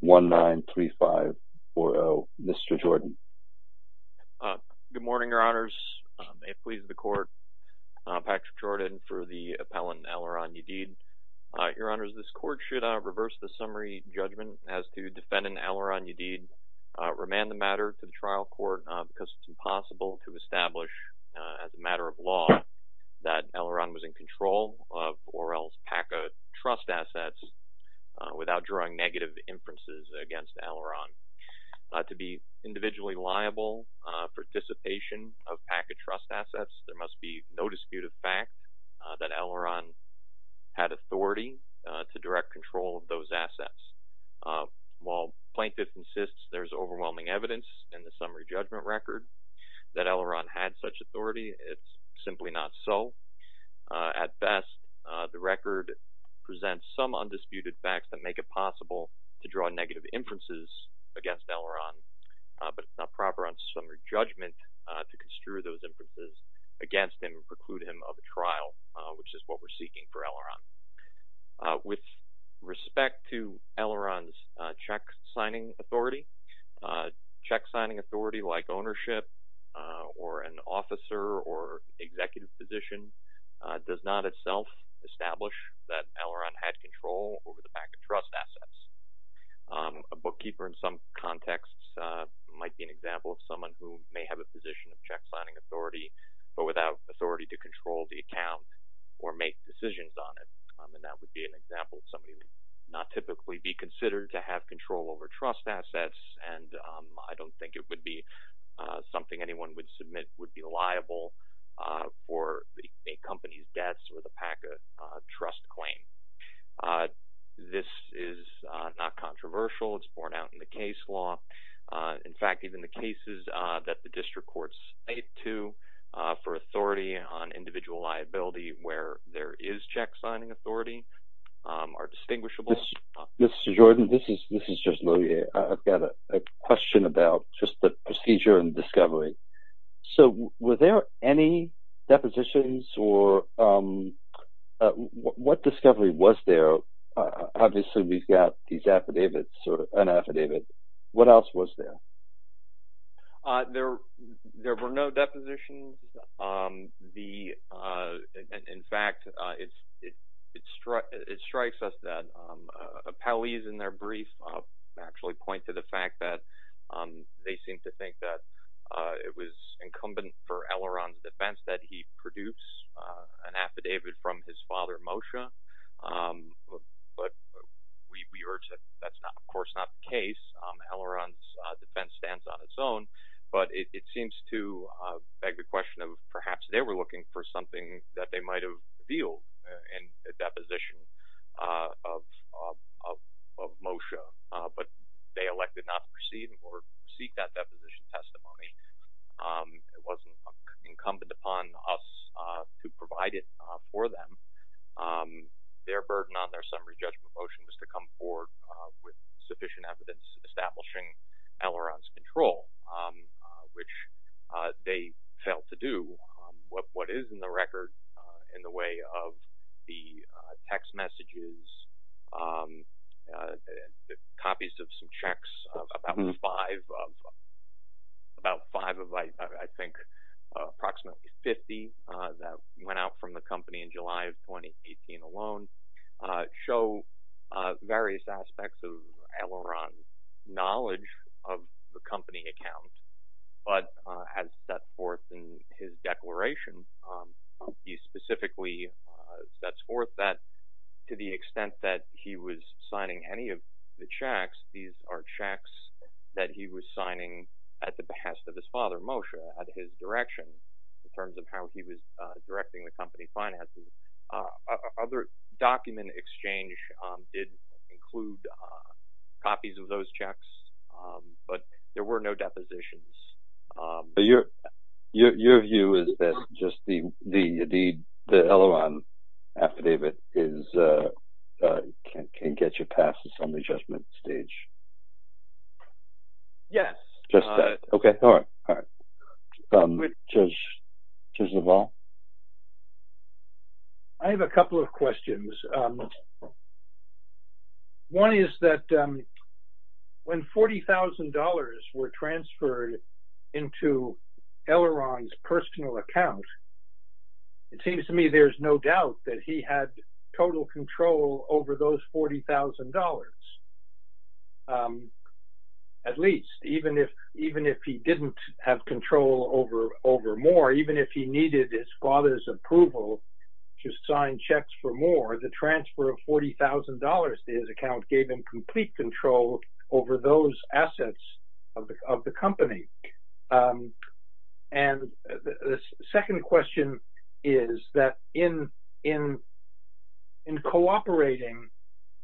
193540, Mr. Jordan. Good morning, Your Honors. It pleases the Court, Patrick Jordan, for the appellant, Aloran Yadid. Your Honors, this Court should reverse the summary judgment as to defendant Aloran Yadid, remand the matter to the trial court because it's impossible to establish as a matter of law that Aloran was in control of Orel's PACA trust assets without drawing negative inferences against Aloran. To be individually liable for dissipation of PACA trust assets, there must be no dispute of fact that Aloran had authority to direct control of those assets. While plaintiff insists there's overwhelming evidence in the summary judgment record that Aloran had such authority, it's simply not so. At best, the record presents some undisputed facts that make it possible to draw negative inferences against Aloran, but it's not proper on summary judgment to construe those inferences against him and preclude him of a trial, which is what we're seeking for Aloran. With respect to Aloran's checksigning authority, checksigning authority like ownership or an officer or executive position does not itself establish that Aloran had control over the PACA trust assets. A bookkeeper in some contexts might be an example of someone who may have a position of checksigning authority but without authority to control the account or make decisions on it, and that would be an example of not typically be considered to have control over trust assets, and I don't think it would be something anyone would submit would be liable for a company's debts with a PACA trust claim. This is not controversial. It's borne out in the case law. In fact, even the cases that the district courts cite to for authority on individual liability where there is checksigning authority are distinguishable. Mr. Jordan, this is just Louie. I've got a question about just the procedure and discovery. So, were there any depositions or what discovery was there? Obviously, we've got these affidavits or an affidavit. What else was there? There were no depositions. In fact, it strikes us that appellees in their brief actually point to the fact that they seem to think that it was incumbent for Aloran's defense that he produce an affidavit from his father, Moshe, but we urge that that's not, of course, not the case. Aloran's defense stands on its own, but it seems to beg the question of perhaps they were looking for something that they might have in a deposition of Moshe, but they elected not to receive or seek that deposition testimony. It wasn't incumbent upon us to provide it for them. Their burden on their summary judgment motion was to come forward with sufficient evidence establishing Aloran's control, which they failed to do. What is in the record in the way of the text messages, copies of some checks, about five of, I think, approximately 50 that went out from the company in July of 2018 alone, show various aspects of Aloran's knowledge of the company account, but has set forth in his declaration, he specifically sets forth that to the extent that he was signing any of the checks, these are checks that he was signing at the behest of his father. Document exchange did include copies of those checks, but there were no depositions. Your view is that just the Aloran affidavit can get you past this on the judgment stage? Yes. Just that. Okay. All right. All right. Judge Leval? I have a couple of questions. One is that when $40,000 were transferred into Aloran's personal account, it seems to me there's no doubt that he had total control over those $40,000. At least, even if he didn't have control over more, even if he needed his father's approval to sign checks for more, the transfer of $40,000 to his account gave him complete control over those assets of the company. The second question is that in cooperating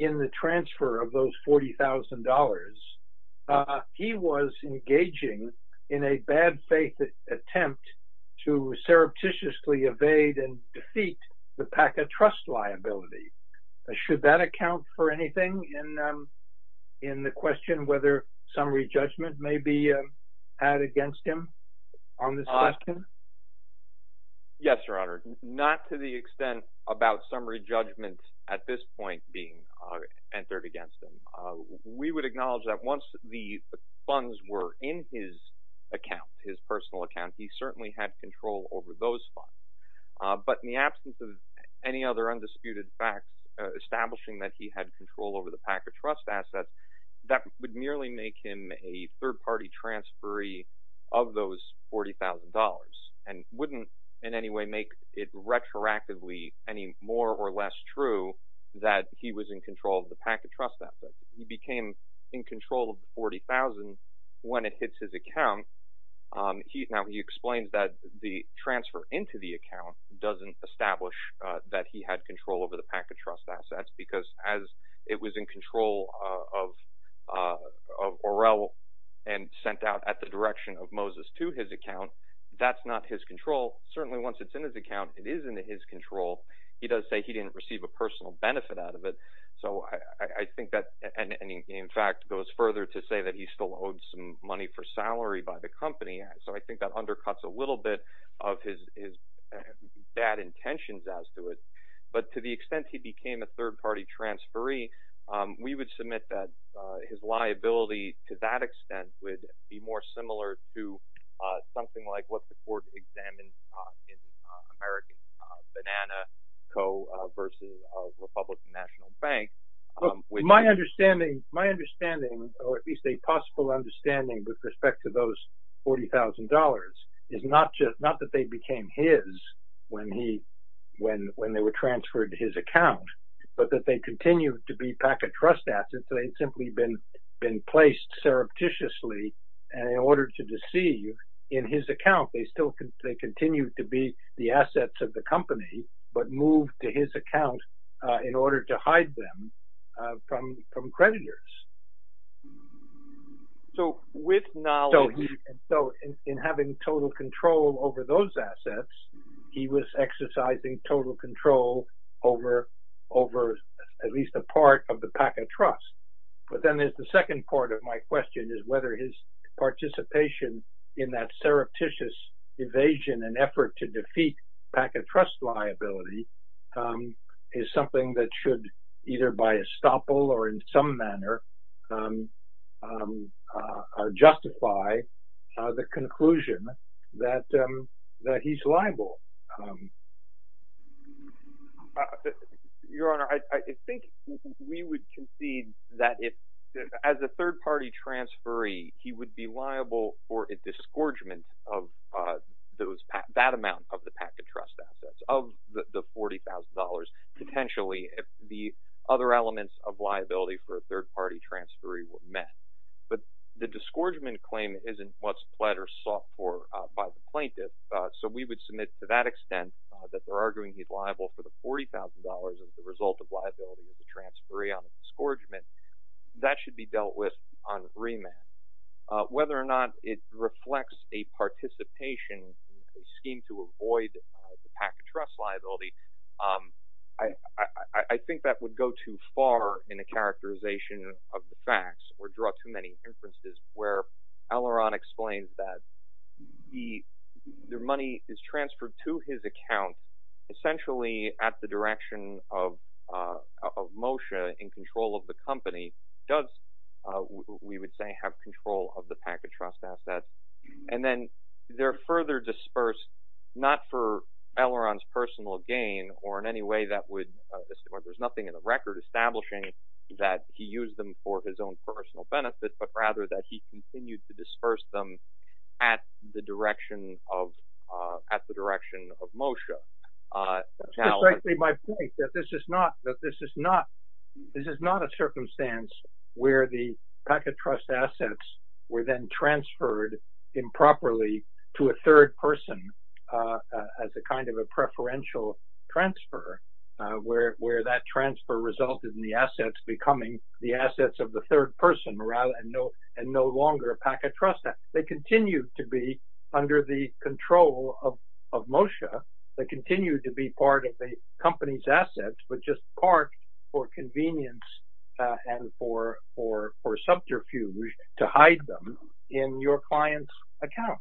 in the transfer of those $40,000, he was engaging in a bad faith attempt to surreptitiously evade and defeat the PACA trust liability. Should that account for anything in the question whether summary judgment may be had against him on this question? Yes, Your Honor. Not to the extent about summary judgment at this point being entered against him. We would acknowledge that once the funds were in his account, his personal account, he certainly had control over those funds. But in the absence of any other undisputed fact establishing that he had control over the PACA trust asset, that would merely make him a third-party transferee of those $40,000 and wouldn't in any way make it retroactively any more or less true that he was in control of the PACA trust asset. He became in control of the $40,000 when it hits his account. Now, he explains that the transfer into the account doesn't establish that he had control over the PACA trust assets because as it was in control of Orel and sent out at the direction of Moses to his certainly once it's in his account, it is in his control. He does say he didn't receive a personal benefit out of it. So, I think that and in fact goes further to say that he still owns some money for salary by the company. So, I think that undercuts a little bit of his bad intentions as to it. But to the extent he became a third-party transferee, we would submit that his liability to that extent would be more similar to something like what the court examined in American Banana Co. versus Republican National Bank. My understanding or at least a possible understanding with respect to those $40,000 is not that they became his when they were transferred his account, but that they continue to be PACA trust assets. They'd simply been placed surreptitiously in order to deceive in his account. They still continue to be the assets of the company, but moved to his account in order to hide them from creditors. So, with knowledge. So, in having total control over those assets, he was exercising total control over at least a part of the PACA trust. But then there's the second part of my question is whether his participation in that surreptitious evasion and effort to defeat PACA trust liability is something that should either by estoppel or in some manner justify the conclusion that he's liable. Your Honor, I think we would concede that as a third-party transferee, he would be liable for a disgorgement of that amount of the PACA trust assets of the $40,000. Potentially, the other elements of liability for a third-party transferee were met. But the disgorgement claim isn't what's pled or sought for by the plaintiff. So, we would submit to that extent that they're arguing he's liable for the $40,000 as a result of liability of the transferee on the disgorgement. That should be dealt with on remand. Whether or not it reflects a participation scheme to avoid the PACA trust liability, I think that would go too far in the characterization of the facts or draw too many inferences where Elrond explains that the money is transferred to his account essentially at the direction of Moshe in control of the company does, we would say, of the PACA trust assets. And then, they're further dispersed not for Elrond's personal gain or in any way that would, there's nothing in the record establishing that he used them for his own personal benefit, but rather that he continued to disperse them at the direction of Moshe. That's exactly my point, that this is not a circumstance where the PACA trust assets were then transferred improperly to a third person as a kind of a preferential transfer, where that transfer resulted in the assets becoming the assets of the third person and no longer a PACA trust asset. They continue to be under the control of Moshe. They continue to be part of the company's assets, but just part for convenience and for subterfuge to hide them in your client's account.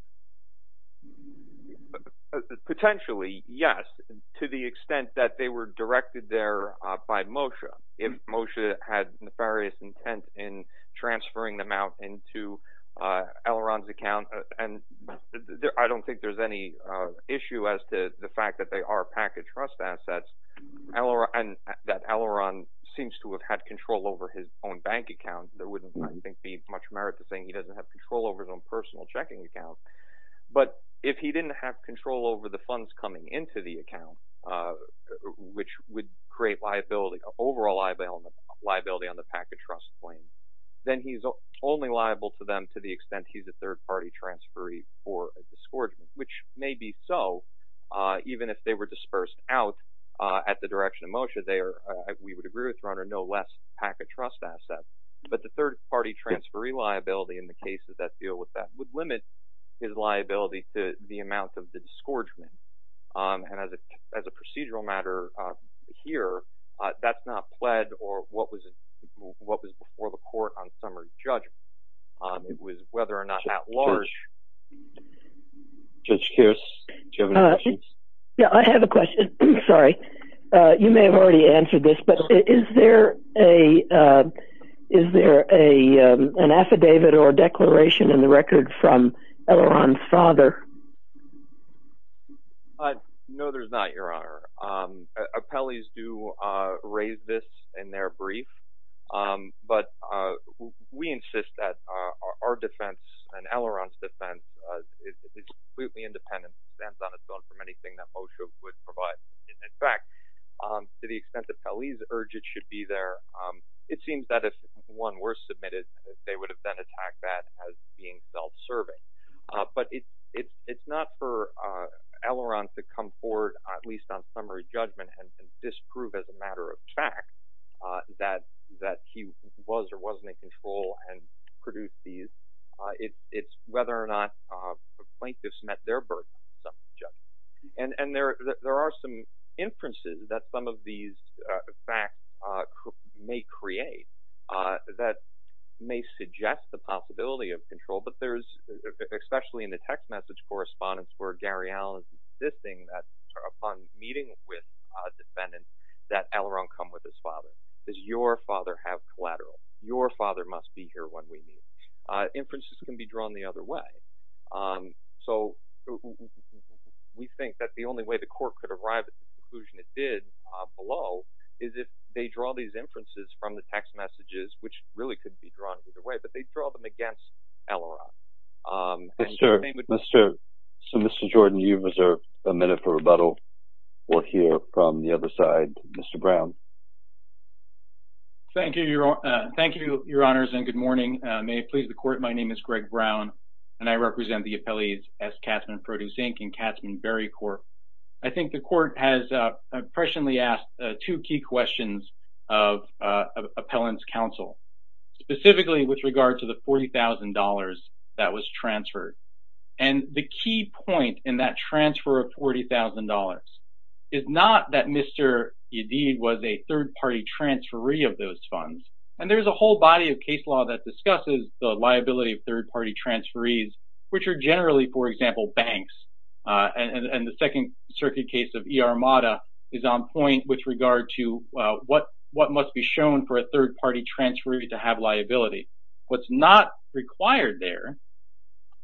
Potentially, yes, to the extent that they were directed there by Moshe. If Moshe had nefarious intent in transferring them out into Elrond's account, and I don't think there's any issue as to the fact that they are PACA trust assets and that Elrond seems to have had control over his own bank account, there wouldn't, I think, be much merit to saying he doesn't have control over his own personal checking account. But if he didn't have overall liability on the PACA trust claim, then he's only liable to them to the extent he's a third-party transferee for a disgorgement, which may be so, even if they were dispersed out at the direction of Moshe. We would agree with you on no less PACA trust asset, but the third-party transferee liability in the cases that deal with that would limit his liability to the amount of disgorgement. And as a procedural matter here, that's not pled or what was before the court on summary judgment. It was whether or not at large... Judge Kearse, do you have any questions? Yeah, I have a question. Sorry. You may have already answered this, but is there an affidavit or a declaration in the record from Elrond's father? No, there's not, Your Honor. Appellees do raise this in their brief, but we insist that our defense and Elrond's defense is completely independent, stands on its own from anything that Moshe would provide. In fact, to the extent that it seems that if one were submitted, they would have then attacked that as being self-serving. But it's not for Elrond to come forward, at least on summary judgment, and disprove as a matter of fact that he was or wasn't in control and produced these. It's whether or not plaintiffs met their summary judgment. And there are some inferences that some of these facts may create that may suggest the possibility of control, but there's, especially in the text message correspondence where Gary Allen's insisting that upon meeting with a defendant that Elrond come with his father. Does your father have collateral? Your father must be here when we meet. Inferences can be drawn the other way. So we think that the only way the court could arrive at the conclusion it did below is if they draw these inferences from the text messages, which really could be drawn either way, but they draw them against Elrond. So, Mr. Jordan, you reserve a minute for rebuttal or hear from the other side. Mr. Brown. Thank you, Your Honors, and good morning. May it please the court, my name is Greg Brown, and I represent the appellees S. Katzmann Produce Inc. and Katzmann Berry Corp. I think the court has presciently asked two key questions of appellant's counsel, specifically with regard to the $40,000 that was transferred. And the key point in that transfer of $40,000 is not that Mr. Yadid was a third-party transferee of those funds, and there's a whole body of case law that discusses the liability of third-party transferees, which are generally, for example, banks. And the Second Circuit case of E.R. Mata is on point with regard to what must be shown for a third-party transferee to have liability. What's not required there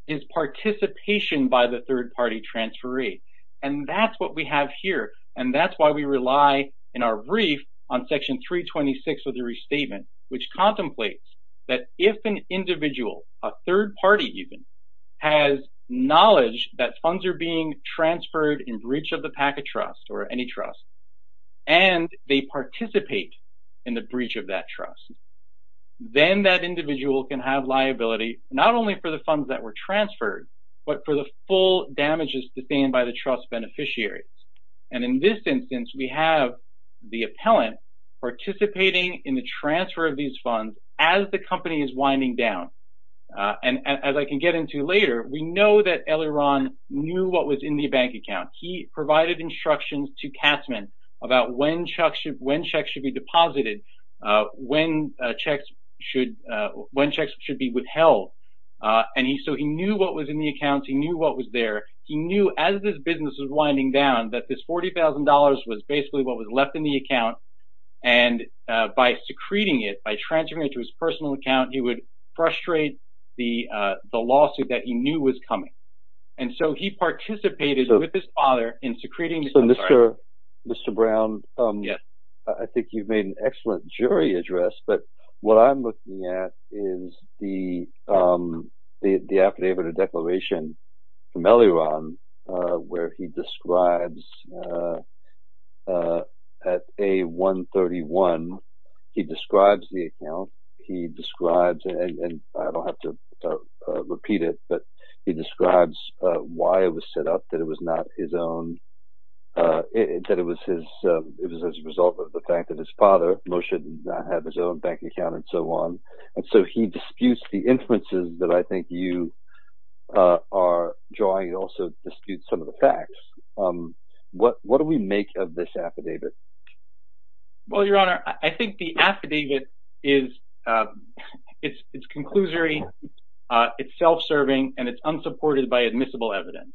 is participation by the third-party transferee, and that's what we have here, and that's why we rely in our brief on Section 326 of the Restatement, which contemplates that if an individual, a third-party even, has knowledge that funds are being transferred in breach of the packet trust or any trust, and they participate in the breach of that trust, then that individual can have liability not only for the funds that were transferred, but for the full damages sustained by the trust beneficiaries. And in this instance, we have the appellant participating in the transfer of these funds as the company is winding down. And as I can get into later, we know that Eliran knew what was in the bank account. He provided instructions to Katzmann about when checks should be deposited, when checks should be withheld, and so he knew what was in the account. He knew what was there. He knew as this business was winding down that this $40,000 was basically what was left in the account, and by secreting it, by transferring it to his personal account, he would frustrate the lawsuit that he knew was coming. And so he participated with his father in secreting this. Mr. Brown, I think you've made an excellent jury address, but what I'm looking at is the affidavit of declaration from Eliran, where he describes at A131, he describes the account, he describes, and I don't have to repeat it, but he describes why it was set up, that it was not his own, that it was as a result of the fact that his father, Moshe, did not have his own bank account and so on. And so he disputes the inferences that I think you are drawing, he also disputes some of the facts. What do we make of this affidavit? Well, Your Honor, I think the affidavit is, it's conclusory, it's self-serving, and it's unsupported by admissible evidence.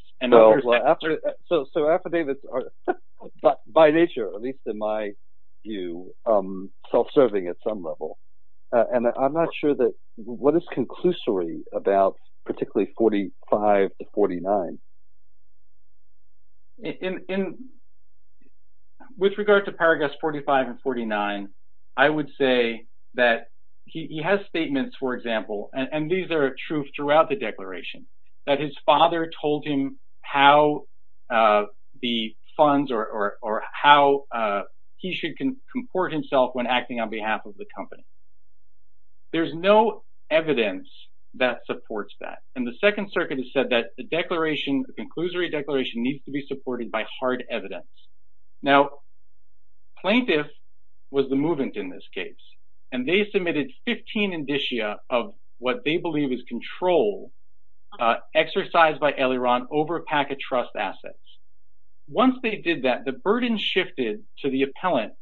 So affidavits are, by nature, at least in my view, self-serving at some level. And I'm not sure that, what is conclusory about particularly 45 to 49? With regard to paragraphs 45 and 49, I would say that he has statements, for example, and these are true throughout the declaration, that his father told him how the funds or how he should comport himself when acting on behalf of the company. There's no evidence that supports that. And the Second Circuit has said that the declaration, the conclusory declaration, needs to be supported by hard evidence. Now, plaintiff was the movant in this case, and they submitted 15 indicia of what they believe is control exercised by Eliron over packet trust assets. Once they did that, the burden shifted to the appellant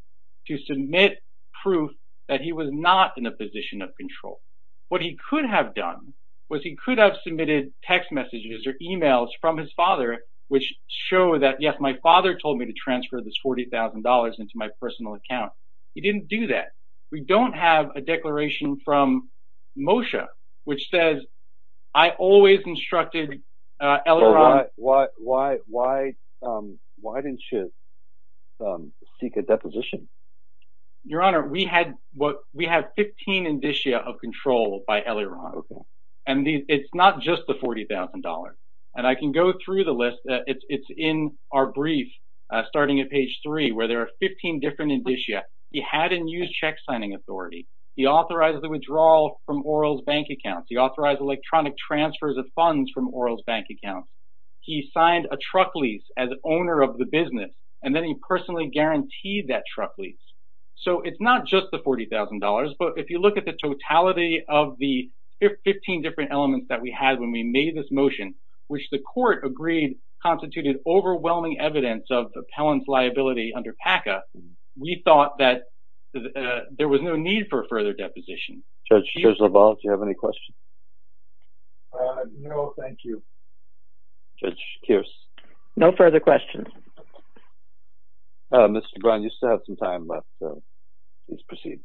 to submit proof that he was not in a position of control. What he could have done was he could have submitted text messages or emails from his father which show that, yes, my father told me to transfer this $40,000 into my personal account. He didn't do that. We don't have a declaration from Moshe which says, I always instructed Eliron. Why didn't you seek a deposition? Your Honor, we had 15 indicia of control by Eliron. And it's not just the $40,000. And I can where there are 15 different indicia. He had a new check signing authority. He authorized the withdrawal from Oral's bank account. He authorized electronic transfers of funds from Oral's bank account. He signed a truck lease as owner of the business. And then he personally guaranteed that truck lease. So it's not just the $40,000. But if you look at the totality of the 15 different elements that we had when we made this motion, which the court agreed constituted overwhelming evidence of Pellon's liability under PACA, we thought that there was no need for further deposition. Judge LaValle, do you have any questions? No, thank you. Judge Keirs? No further questions. Mr. Gron, you still have some time left. Please proceed.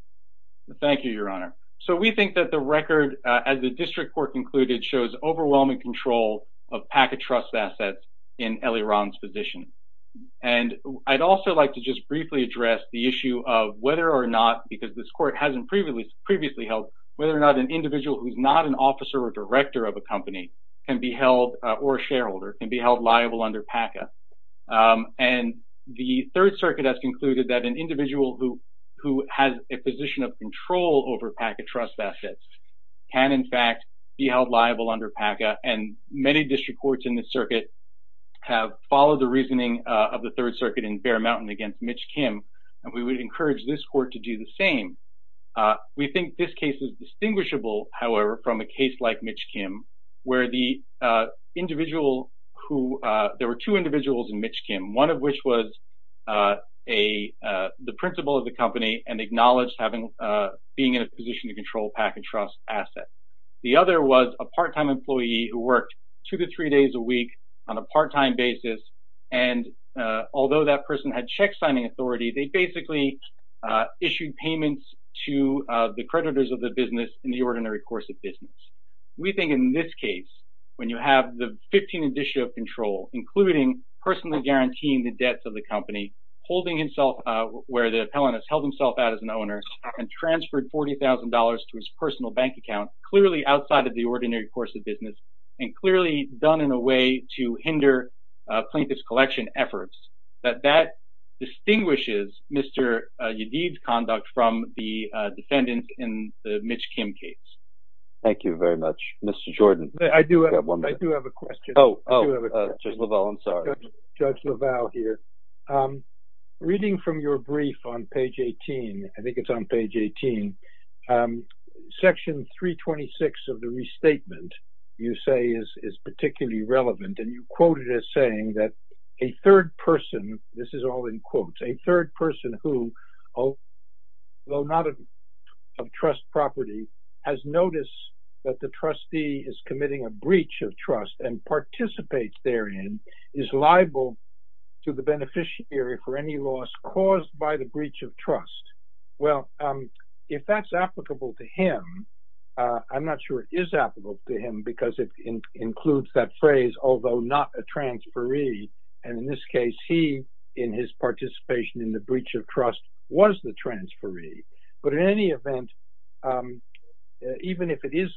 Thank you, Your Honor. So we think that the record as the district court concluded shows overwhelming control of PACA trust assets in Eliron's position. And I'd also like to just briefly address the issue of whether or not, because this court hasn't previously held, whether or not an individual who is not an officer or director of a company can be held, or a shareholder, can be held liable under PACA. And the Third Circuit has concluded that an individual who has a position of control over PACA trust assets can, in fact, be held liable under PACA. And many district courts in the circuit have followed the reasoning of the Third Circuit in Bear Mountain against Mitch Kim. And we would encourage this court to do the same. We think this case is distinguishable, however, from a case like Mitch Kim, where the individual who, there were two individuals in a position of control of PACA trust assets. The other was a part-time employee who worked two to three days a week on a part-time basis. And although that person had check signing authority, they basically issued payments to the creditors of the business in the ordinary course of business. We think in this case, when you have the 15 addition of control, including personally guaranteeing the debts of the company, holding himself where the appellant has held himself out as an owner, and transferred $40,000 to his personal bank account, clearly outside of the ordinary course of business, and clearly done in a way to hinder plaintiff's collection efforts, that that distinguishes Mr. Yadid's conduct from the defendant in the Mitch Kim case. Thank you very much. Mr. Jordan. I do have one. I do have a question. Judge LaValle here. Reading from your brief on page 18, I think it's on page 18, section 326 of the restatement, you say is particularly relevant. And you quoted as saying that a third person, this is all in quotes, a third person who, although not of trust property, has noticed that the trustee is committing a breach of trust and participates therein is liable to the beneficiary for any loss caused by the breach of trust. Well, if that's applicable to him, I'm not sure it is applicable to him because it includes that phrase, although not a transferee. And in this case, he, in his participation in the breach of trust was the transferee. But in any event, even if it is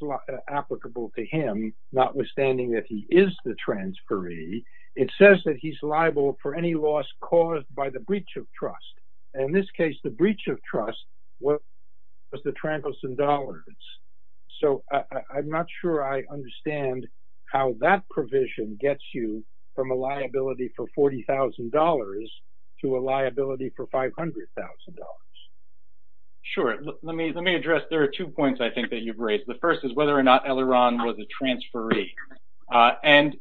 applicable to him, notwithstanding that he is the transferee, it says that he's liable for any loss caused by the breach of trust. And in this case, the breach of trust was the Trampelson-Dollars. So I'm not sure I understand how that provision gets you from a liability for $40,000 to a liability for $500,000. Sure. Let me address, there are two points I think that you've raised. The first is whether or not Eleron was a transferee. And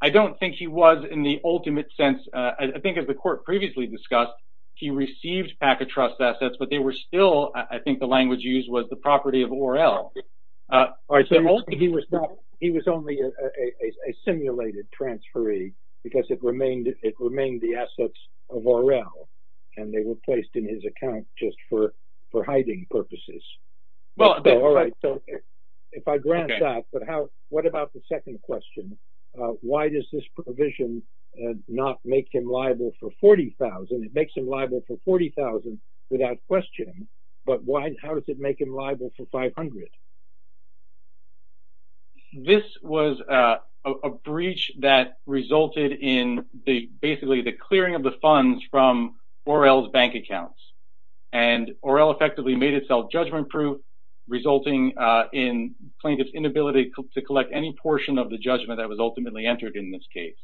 I don't think he was in the ultimate sense. I think as the court previously discussed, he received PACA trust assets, but they were still, I think the language used was the property of Or-El. He was only a simulated transferee because it remained the assets of Or-El and they were placed in his account just for hiding purposes. Well, all right. So if I grant that, but what about the second question? Why does this provision not make him liable for $40,000? It makes him liable for $40,000 without questioning, but how does it make him liable for $500,000? This was a breach that resulted in basically the clearing of the funds from Or-El's bank accounts. And Or-El effectively made itself judgment proof, resulting in plaintiff's inability to collect any portion of the judgment that was ultimately entered in this case.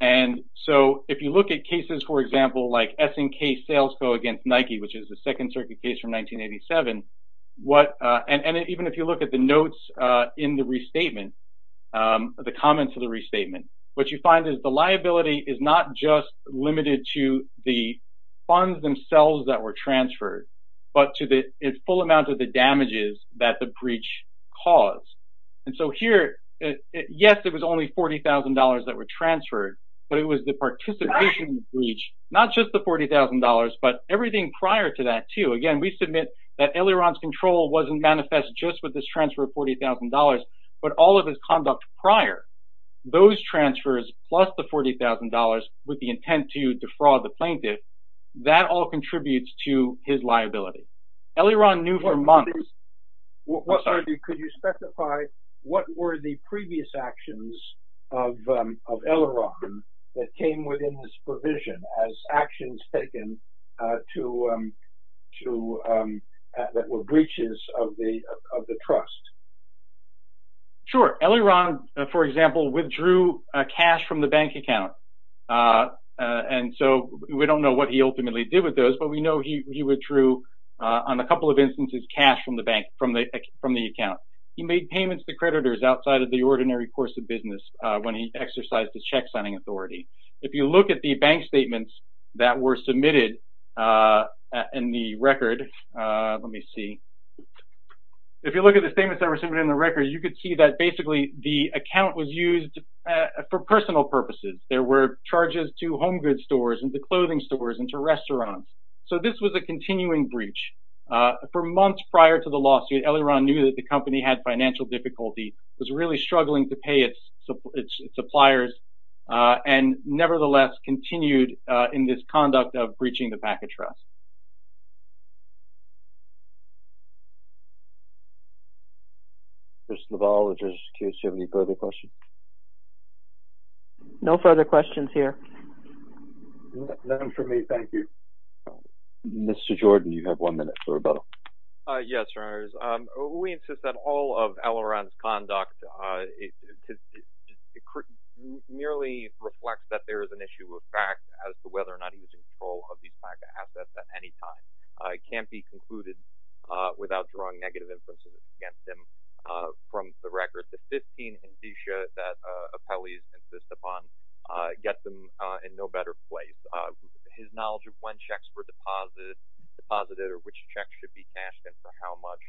And so if you look at cases, for example, like S&K Sales Co. against Nike, which is the second circuit case from 1987, what, and even if you look at the notes in the restatement, the comments of the restatement, what you find is the liability is not just limited to the funds themselves that were transferred, but to the full amount of the damages that the breach caused. And so here, yes, it was only $40,000 that were transferred, but it was the participation in the breach, not just the $40,000, but everything prior to that too. Again, we submit that Eliron's control wasn't manifest just with this transfer of $40,000, but all of his conduct prior, those transfers, plus the $40,000 with the intent to defraud the plaintiff, that all contributes to his liability. Eliron knew for months... Could you specify what were the previous actions of Eliron that came within this provision as to, that were breaches of the trust? Sure. Eliron, for example, withdrew cash from the bank account. And so we don't know what he ultimately did with those, but we know he withdrew, on a couple of instances, cash from the bank, from the account. He made payments to creditors outside of the ordinary course of business when he exercised his checksigning authority. If you look at the bank statements that were submitted in the record, let me see. If you look at the statements that were submitted in the record, you could see that basically the account was used for personal purposes. There were charges to home goods stores and to clothing stores and to restaurants. So this was a continuing breach. For months prior to the lawsuit, Eliron knew that the company had financial difficulty, was really struggling to pay its suppliers, and nevertheless continued in this conduct of breaching the package trust. Mr. LaValle, in this case, do you have any further questions? No further questions here. None from me, thank you. Mr. Jordan, you have one minute for rebuttal. Yes, Your Honors. We insist that all of Eliron's conduct merely reflects that there is an issue of fact as to whether or not he was in control of these MACA assets at any time. It can't be concluded without drawing negative influences against him. From the record, the 15 indicia that appellees insist upon get them in no better place. His knowledge of when checks were deposited or which checks should be cashed and for how much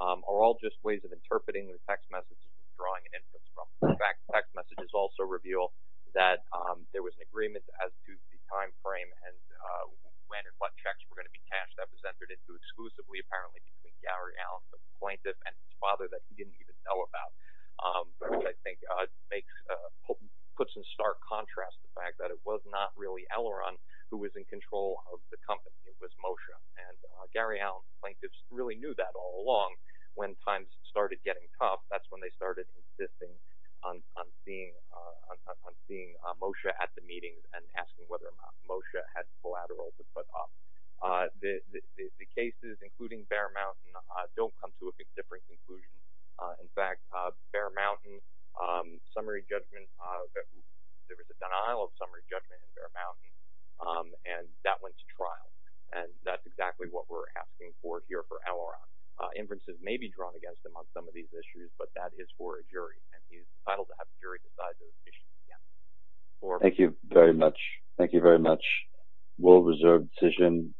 are all just ways of interpreting the text messages and drawing an influence from them. In fact, text messages also reveal that there was an agreement as to the time frame and when and what checks were going to be cashed. That was entered into exclusively, apparently, between Gary Allen, the plaintiff, and his father that he didn't even know about, which I think puts in stark contrast to the fact that it was not really Eliron who was in control of the company. It was when times started getting tough. That's when they started insisting on seeing Moshe at the meetings and asking whether Moshe had collateral to put up. The cases, including Bear Mountain, don't come to a different conclusion. In fact, Bear Mountain summary judgment, there was a denial of summary judgment in Bear Mountain, and that went to trial. And that's what we're asking for here for Eliron. Inferences may be drawn against him on some of these issues, but that is for a jury, and he's entitled to have the jury decide those issues again. Thank you very much. Thank you very much. World Reserve decision.